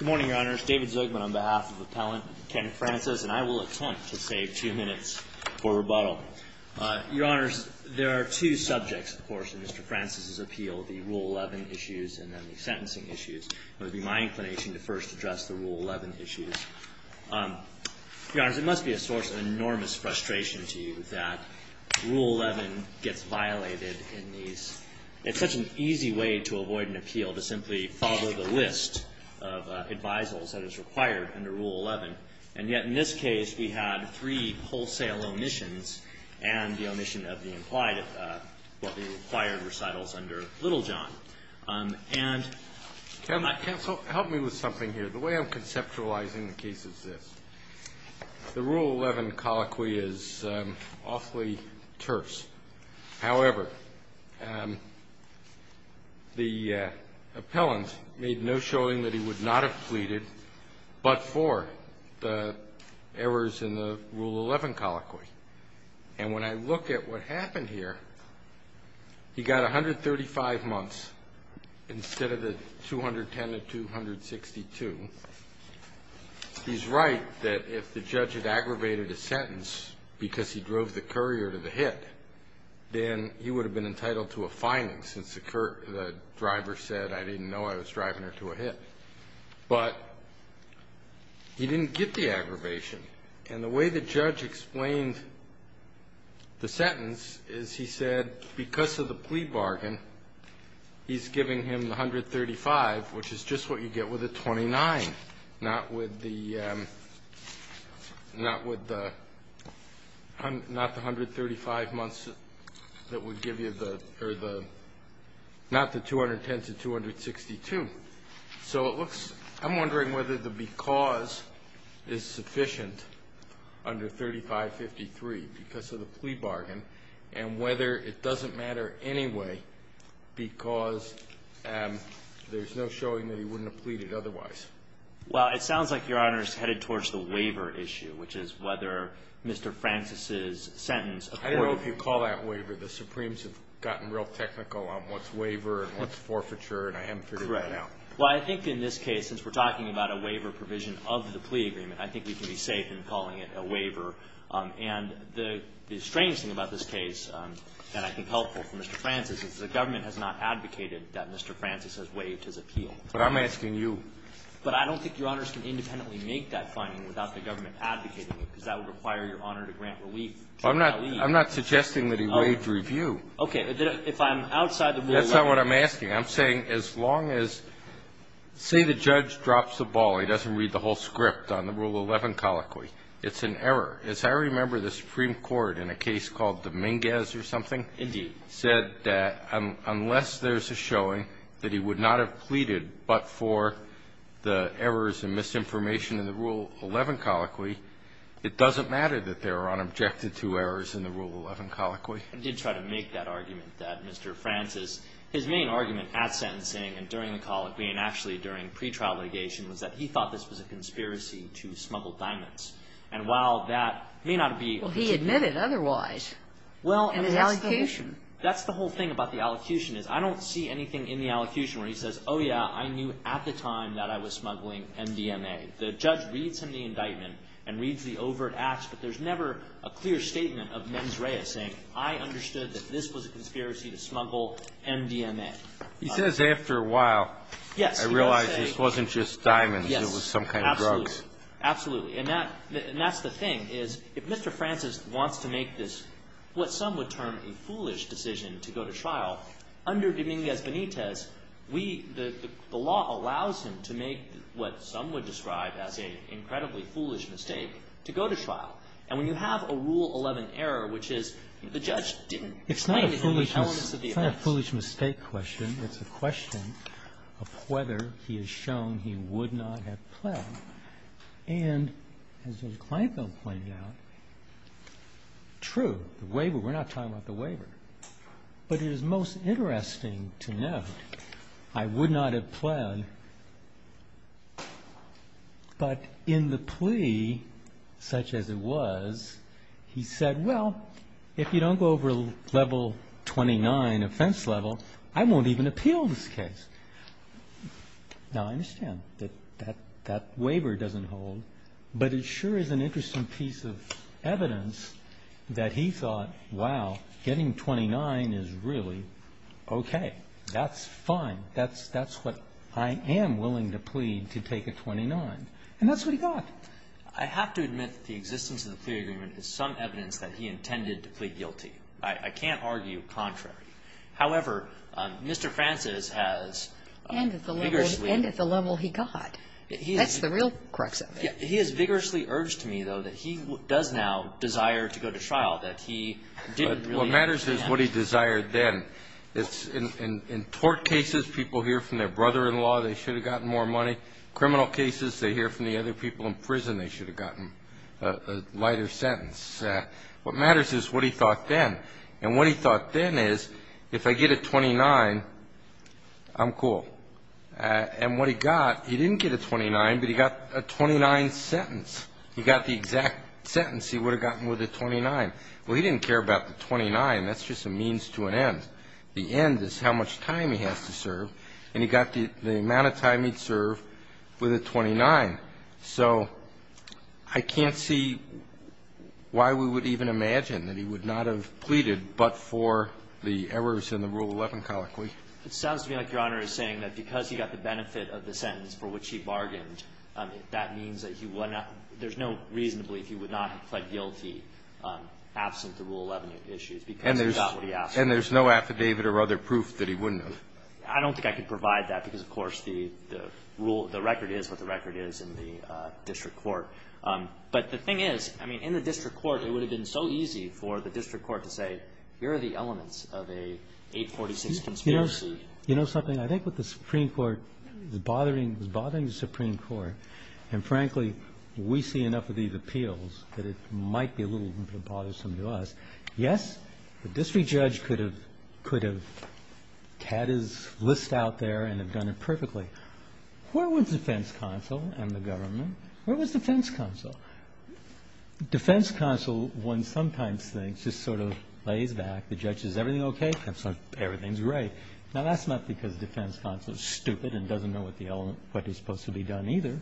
Good morning, Your Honors. David Zogman on behalf of Appellant Ken Francis, and I will attempt to save two minutes for rebuttal. Your Honors, there are two subjects, of course, in Mr. Francis' appeal, the Rule 11 issues and then the sentencing issues. It would be my inclination to first address the Rule 11 issues. Your Honors, it must be a source of enormous frustration to you that Rule 11 gets violated in these It's such an easy way to avoid an appeal, to simply follow the list of advisals that is required under Rule 11. And yet in this case, we had three wholesale omissions and the omission of the required recitals under Littlejohn. Counsel, help me with something here. The way I'm conceptualizing the case is this. The Rule 11 colloquy is awfully terse. However, the appellant made no showing that he would not have pleaded but for the errors in the Rule 11 colloquy. And when I look at what happened here, he got 135 months instead of the 210 and 262. He's right that if the judge had aggravated a sentence because he drove the courier to the hit, then he would have been entitled to a fining since the driver said, I didn't know I was driving her to a hit. But he didn't get the aggravation. And the way the judge explained the sentence is he said because of the plea bargain, he's giving him 135, which is just what you get with a 29, not with the not the 135 months that would give you the or the not the 210 to 262. So it looks I'm wondering whether the because is sufficient under 3553 because of the plea bargain and whether it doesn't matter anyway because there's no showing that he wouldn't have pleaded otherwise. Well, it sounds like Your Honor is headed towards the waiver issue, which is whether Mr. Francis's sentence. I don't know if you call that waiver. The Supremes have gotten real technical on what's waiver and what's forfeiture, and I haven't figured that out. Well, I think in this case, since we're talking about a waiver provision of the plea agreement, And the strangest thing about this case, and I think helpful for Mr. Francis, is the government has not advocated that Mr. Francis has waived his appeal. But I'm asking you. But I don't think Your Honors can independently make that finding without the government advocating it because that would require Your Honor to grant relief. I'm not suggesting that he waived review. Okay. If I'm outside the rule of law. That's not what I'm asking. I'm saying as long as say the judge drops the ball, he doesn't read the whole script on the Rule 11 colloquy. It's an error. As I remember, the Supreme Court in a case called Dominguez or something. Indeed. Said that unless there's a showing that he would not have pleaded but for the errors and misinformation in the Rule 11 colloquy, it doesn't matter that there are unobjected to errors in the Rule 11 colloquy. I did try to make that argument that Mr. Francis, his main argument at sentencing and during the colloquy and actually during pretrial litigation was that he thought this was a conspiracy to smuggle diamonds. And while that may not be what he's admitting. Well, he admitted otherwise. Well, and that's the whole. In the allocution. That's the whole thing about the allocution is I don't see anything in the allocution where he says, oh, yeah, I knew at the time that I was smuggling MDMA. The judge reads him the indictment and reads the overt acts, but there's never a clear statement of mens rea saying I understood that this was a conspiracy to smuggle MDMA. He says after a while. I realize this wasn't just diamonds. It was some kind of drugs. Absolutely. And that's the thing is if Mr. Francis wants to make this what some would term a foolish decision to go to trial, under Dominguez Benitez, we, the law allows him to make what some would describe as an incredibly foolish mistake to go to trial. And when you have a Rule 11 error, which is the judge didn't. It's not a foolish mistake question. It's a question of whether he has shown he would not have pled. And as Judge Kleinfeld pointed out, true. The waiver. We're not talking about the waiver. But it is most interesting to note I would not have pled. But in the plea, such as it was, he said, well, if you don't go over level 29 offense level, I won't even appeal this case. Now, I understand that that waiver doesn't hold. But it sure is an interesting piece of evidence that he thought, wow, getting 29 is really okay. That's fine. That's what I am willing to plead to take a 29. And that's what he got. I have to admit that the existence of the plea agreement is some evidence that he intended to plead guilty. I can't argue contrary. However, Mr. Francis has vigorously. And at the level he got. That's the real crux of it. He has vigorously urged me, though, that he does now desire to go to trial, that he didn't really intend. What matters is what he desired then. In tort cases, people hear from their brother-in-law they should have gotten more money. Criminal cases, they hear from the other people in prison they should have gotten a lighter sentence. What matters is what he thought then. And what he thought then is if I get a 29, I'm cool. And what he got, he didn't get a 29, but he got a 29 sentence. He got the exact sentence he would have gotten with a 29. Well, he didn't care about the 29. That's just a means to an end. The end is how much time he has to serve. And he got the amount of time he'd serve with a 29. So I can't see why we would even imagine that he would not have pleaded but for the errors in the Rule 11 colloquy. It sounds to me like Your Honor is saying that because he got the benefit of the sentence for which he bargained, that means that he would not – there's no reason to believe he would not have pled guilty absent the Rule 11 issues, because he got what he asked for. And there's no affidavit or other proof that he wouldn't have. I don't think I could provide that because, of course, the rule – the record is what the record is in the district court. But the thing is, I mean, in the district court, it would have been so easy for the district court to say here are the elements of a 846 conspiracy. You know something? I think what the Supreme Court is bothering the Supreme Court, and frankly we see enough of these appeals that it might be a little bit bothersome to us. Yes, the district judge could have – could have had his list out there and have done it perfectly. Where was defense counsel and the government? Where was defense counsel? Defense counsel, one sometimes thinks, just sort of lays back. The judge says, is everything okay? Everything's great. Now, that's not because defense counsel is stupid and doesn't know what the element – what is supposed to be done either.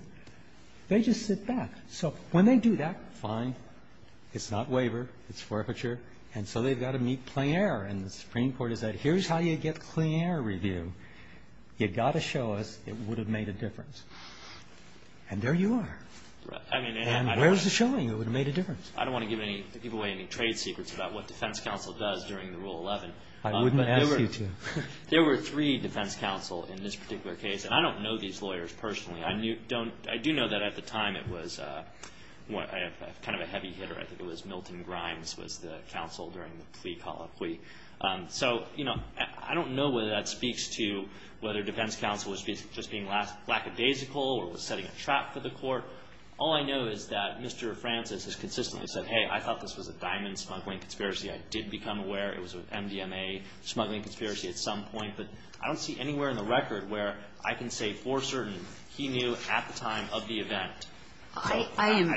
They just sit back. So when they do that, fine. It's not waiver. It's forfeiture. And so they've got to meet plein air. And the Supreme Court has said, here's how you get plein air review. You've got to show us it would have made a difference. And there you are. And where's the showing it would have made a difference? I don't want to give any – give away any trade secrets about what defense counsel does during the Rule 11. I wouldn't ask you to. There were three defense counsel in this particular case. And I don't know these lawyers personally. I do know that at the time it was kind of a heavy hitter. I think it was Milton Grimes was the counsel during the plea colloquy. So, you know, I don't know whether that speaks to whether defense counsel was just being lackadaisical or was setting a trap for the court. All I know is that Mr. Francis has consistently said, hey, I thought this was a diamond smuggling conspiracy. I did become aware it was an MDMA smuggling conspiracy at some point. But I don't see anywhere in the record where I can say for certain he knew at the time of the event. I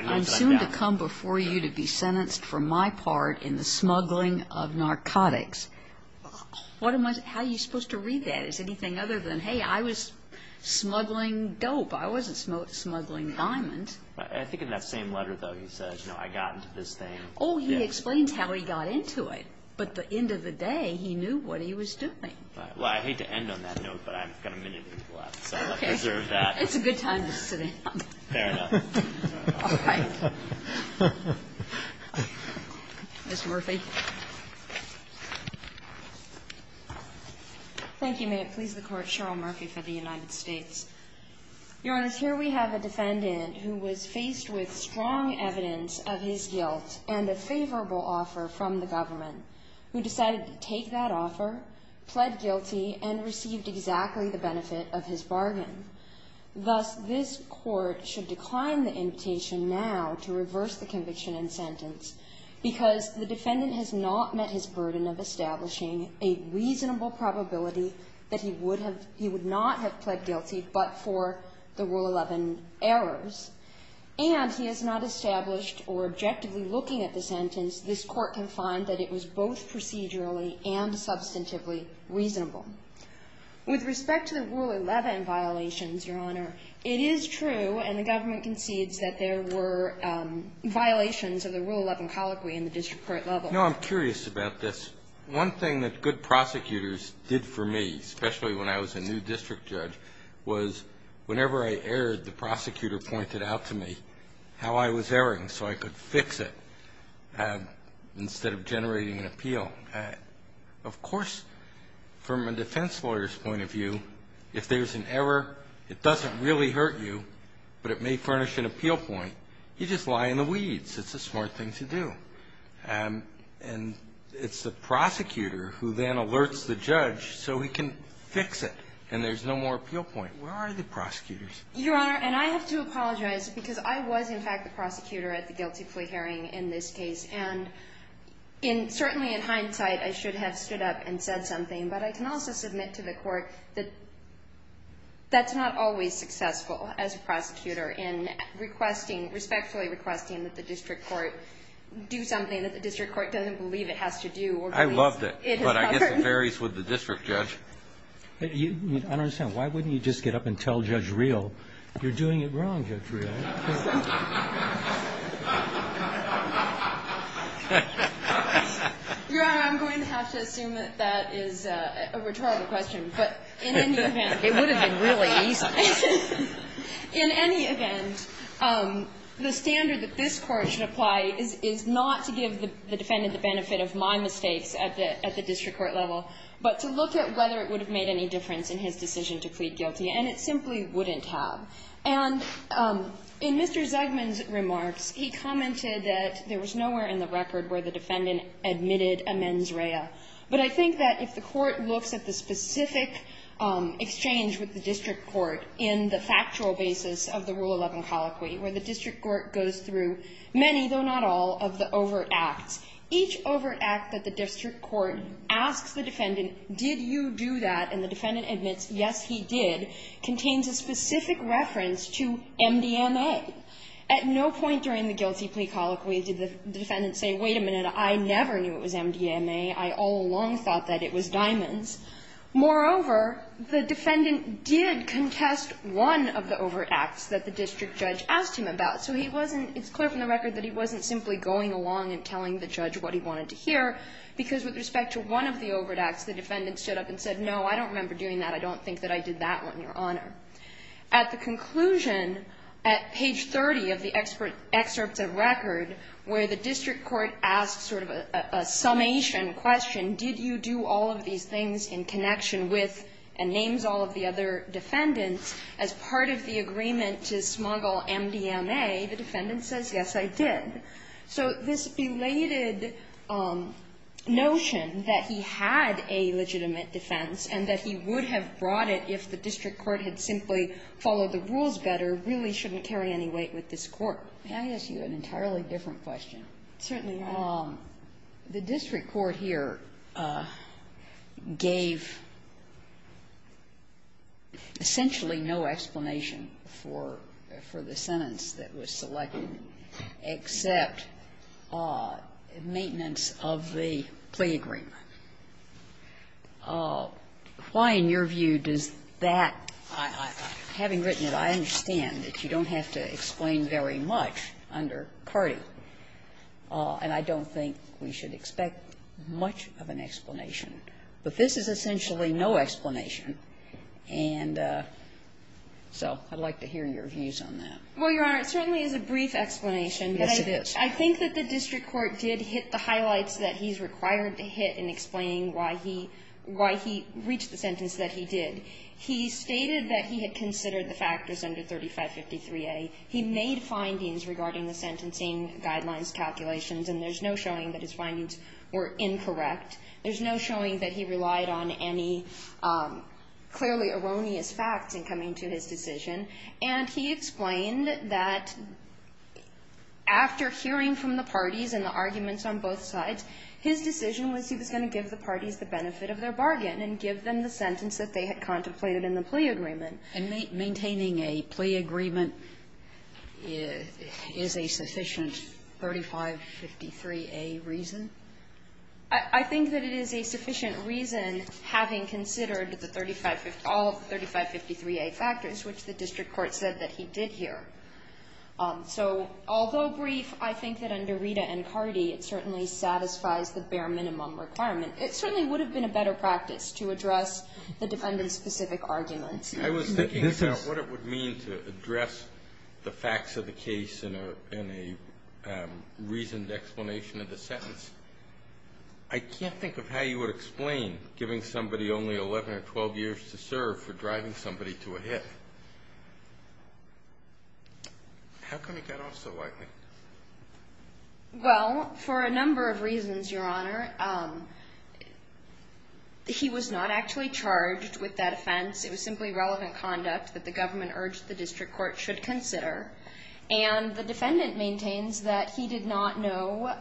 am soon to come before you to be sentenced for my part in the smuggling of narcotics. What am I – how are you supposed to read that as anything other than, hey, I was smuggling dope. I wasn't smuggling diamonds. I think in that same letter, though, he says, you know, I got into this thing. Oh, he explains how he got into it. But at the end of the day, he knew what he was doing. Well, I hate to end on that note, but I've got a minute left. So I'll preserve that. Okay. It's a good time to sit down. Fair enough. All right. Ms. Murphy. Thank you. May it please the Court. Cheryl Murphy for the United States. Your Honor, here we have a defendant who was faced with strong evidence of his guilt and a favorable offer from the government, who decided to take that offer, pled guilty, and received exactly the benefit of his bargain. Thus, this Court should decline the invitation now to reverse the conviction and sentence because the defendant has not met his burden of establishing a reasonable probability that he would have – he would not have pled guilty but for the Rule 11 errors. And he has not established or objectively looking at the sentence, this Court can find that it was both procedurally and substantively reasonable. With respect to the Rule 11 violations, Your Honor, it is true, and the government concedes that there were violations of the Rule 11 colloquy in the district court level. No, I'm curious about this. One thing that good prosecutors did for me, especially when I was a new district judge, was whenever I erred, the prosecutor pointed out to me how I was erring so I could fix it instead of generating an appeal. Of course, from a defense lawyer's point of view, if there's an error, it doesn't really hurt you, but it may furnish an appeal point, you just lie in the weeds. It's a smart thing to do. And it's the prosecutor who then alerts the judge so he can fix it and there's no more appeal point. Where are the prosecutors? Your Honor, and I have to apologize because I was, in fact, the prosecutor at the guilty plea hearing in this case. And certainly in hindsight, I should have stood up and said something, but I can also submit to the Court that that's not always successful as a prosecutor in respectfully requesting that the district court do something that the district court doesn't believe it has to do. I loved it. But I guess it varies with the district judge. I don't understand. Why wouldn't you just get up and tell Judge Reel you're doing it wrong, Judge Reel? Your Honor, I'm going to have to assume that that is a rhetorical question, but in any event. It would have been really easy. In any event, the standard that this Court should apply is not to give the defendant the benefit of my mistakes at the district court level, but to look at whether it would have made any difference in his decision to plead guilty. And it simply wouldn't have. And in Mr. Zegman's remarks, he commented that there was nowhere in the record where the defendant admitted amends REIA. But I think that if the Court looks at the specific exchange with the district court in the factual basis of the Rule 11 colloquy, where the district court goes through many, though not all, of the overt acts, each overt act that the district court asks the defendant, did you do that, and the defendant admits, yes, he did, contains a specific reference to MDMA. At no point during the guilty plea colloquy did the defendant say, wait a minute, I never knew it was MDMA. I all along thought that it was diamonds. Moreover, the defendant did contest one of the overt acts that the district judge asked him about. So he wasn't, it's clear from the record that he wasn't simply going along and telling the judge what he wanted to hear, because with respect to one of the overt acts, the defendant stood up and said, no, I don't remember doing that. I don't think that I did that one, Your Honor. At the conclusion, at page 30 of the excerpts of record, where the district court asks sort of a summation question, did you do all of these things in connection with and names all of the other defendants, as part of the agreement to smuggle MDMA, the defendant says, yes, I did. So this belated notion that he had a legitimate defense and that he would have brought it if the district court had simply followed the rules better really shouldn't carry any weight with this Court. Sotomayor, may I ask you an entirely different question? Certainly. The district court here gave essentially no explanation for the sentence that was selected except maintenance of the plea agreement. Why, in your view, does that, having written it, I understand that you don't have to explain very much under Carty, and I don't think we should expect much of an explanation. But this is essentially no explanation, and so I'd like to hear your views on that. Well, Your Honor, it certainly is a brief explanation. Yes, it is. I think that the district court did hit the highlights that he's required to hit in explaining why he reached the sentence that he did. He stated that he had considered the factors under 3553a. He made findings regarding the sentencing guidelines calculations, and there's no showing that his findings were incorrect. There's no showing that he relied on any clearly erroneous facts in coming to his decision. And he explained that after hearing from the parties and the arguments on both sides, his decision was he was going to give the parties the benefit of their bargain and give them the sentence that they had contemplated in the plea agreement. And maintaining a plea agreement is a sufficient 3553a reason? I think that it is a sufficient reason, having considered the 3553a factors, which the district court said that he did hear. So although brief, I think that under Rita and Carty it certainly satisfies the bare minimum requirement. It certainly would have been a better practice to address the defendant's specific arguments. I was thinking about what it would mean to address the facts of the case in a reasoned explanation of the sentence. I can't think of how you would explain giving somebody only 11 or 12 years to serve for driving somebody to a hit. How come he got off so lightly? Well, for a number of reasons, Your Honor. He was not actually charged with that offense. It was simply relevant conduct that the government urged the district court should consider. And the defendant maintains that he did not know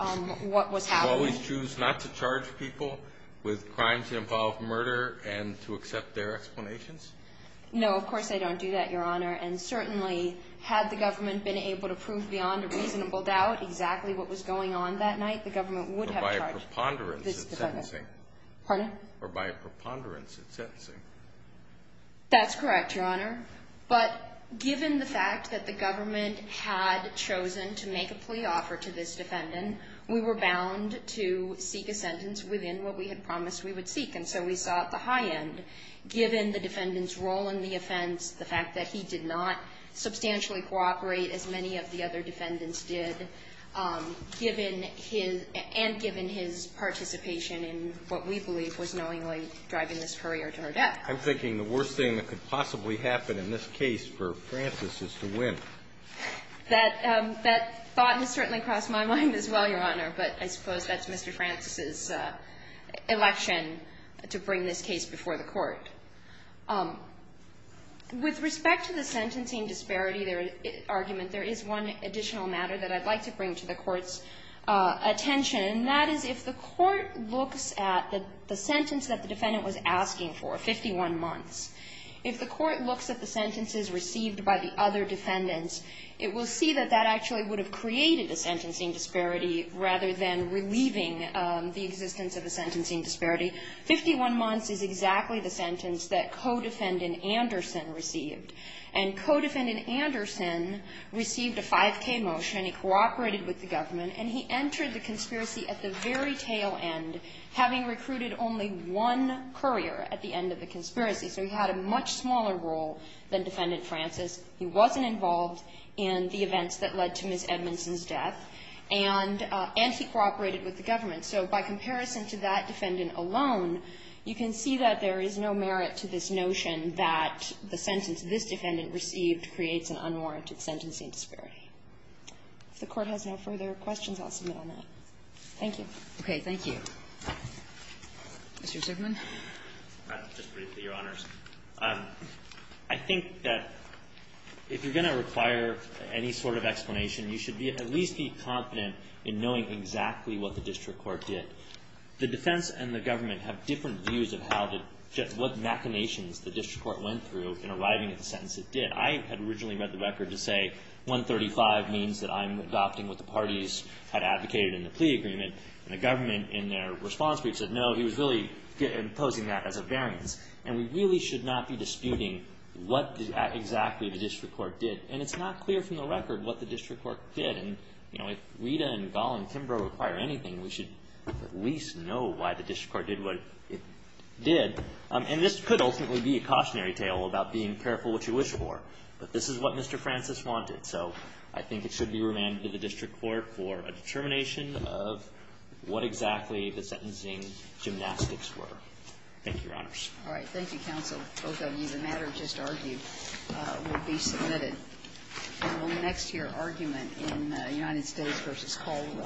what was happening. Do you always choose not to charge people with crimes that involve murder and to accept their explanations? No, of course I don't do that, Your Honor. Had the government been able to prove beyond a reasonable doubt exactly what was going on that night, the government would have charged this defendant. Pardon? Or by a preponderance in sentencing. That's correct, Your Honor. But given the fact that the government had chosen to make a plea offer to this defendant, we were bound to seek a sentence within what we had promised we would seek. And so we saw at the high end, given the defendant's role in the offense, the fact that he did not substantially cooperate as many of the other defendants did, and given his participation in what we believe was knowingly driving this courier to her death. I'm thinking the worst thing that could possibly happen in this case for Francis is to win. That thought has certainly crossed my mind as well, Your Honor. But I suppose that's Mr. Francis's election to bring this case before the court. With respect to the sentencing disparity argument, there is one additional matter that I'd like to bring to the Court's attention, and that is if the Court looks at the sentence that the defendant was asking for, 51 months, if the Court looks at the sentences received by the other defendants, it will see that that actually would have created a sentencing disparity rather than relieving the existence of a sentencing disparity. Fifty-one months is exactly the sentence that co-defendant Anderson received. And co-defendant Anderson received a 5K motion, and he cooperated with the government, and he entered the conspiracy at the very tail end, having recruited only one courier at the end of the conspiracy. So he had a much smaller role than Defendant Francis. He wasn't involved in the events that led to Ms. Edmondson's death. And he cooperated with the government. So by comparison to that defendant alone, you can see that there is no merit to this notion that the sentence this defendant received creates an unwarranted sentencing disparity. If the Court has no further questions, I'll submit on that. Thank you. Kagan. Thank you. Mr. Zuckerman. Just briefly, Your Honors. I think that if you're going to require any sort of explanation, you should be at least be confident in knowing exactly what the district court did. The defense and the government have different views of how to get what machinations the district court went through in arriving at the sentence it did. I had originally read the record to say 135 means that I'm adopting what the parties had advocated in the plea agreement. And the government in their response brief said, no, he was really imposing that as a variance. And we really should not be disputing what exactly the district court did. And it's not clear from the record what the district court did. And, you know, if Rita and Gollum-Kimbrough require anything, we should at least know why the district court did what it did. And this could ultimately be a cautionary tale about being careful what you wish for. But this is what Mr. Francis wanted. So I think it should be remanded to the district court for a determination of what exactly the sentencing gymnastics were. Thank you, Your Honors. All right. Thank you, counsel. Both of you. The matter just argued will be submitted. And we'll move next to your argument in United States versus Colorado.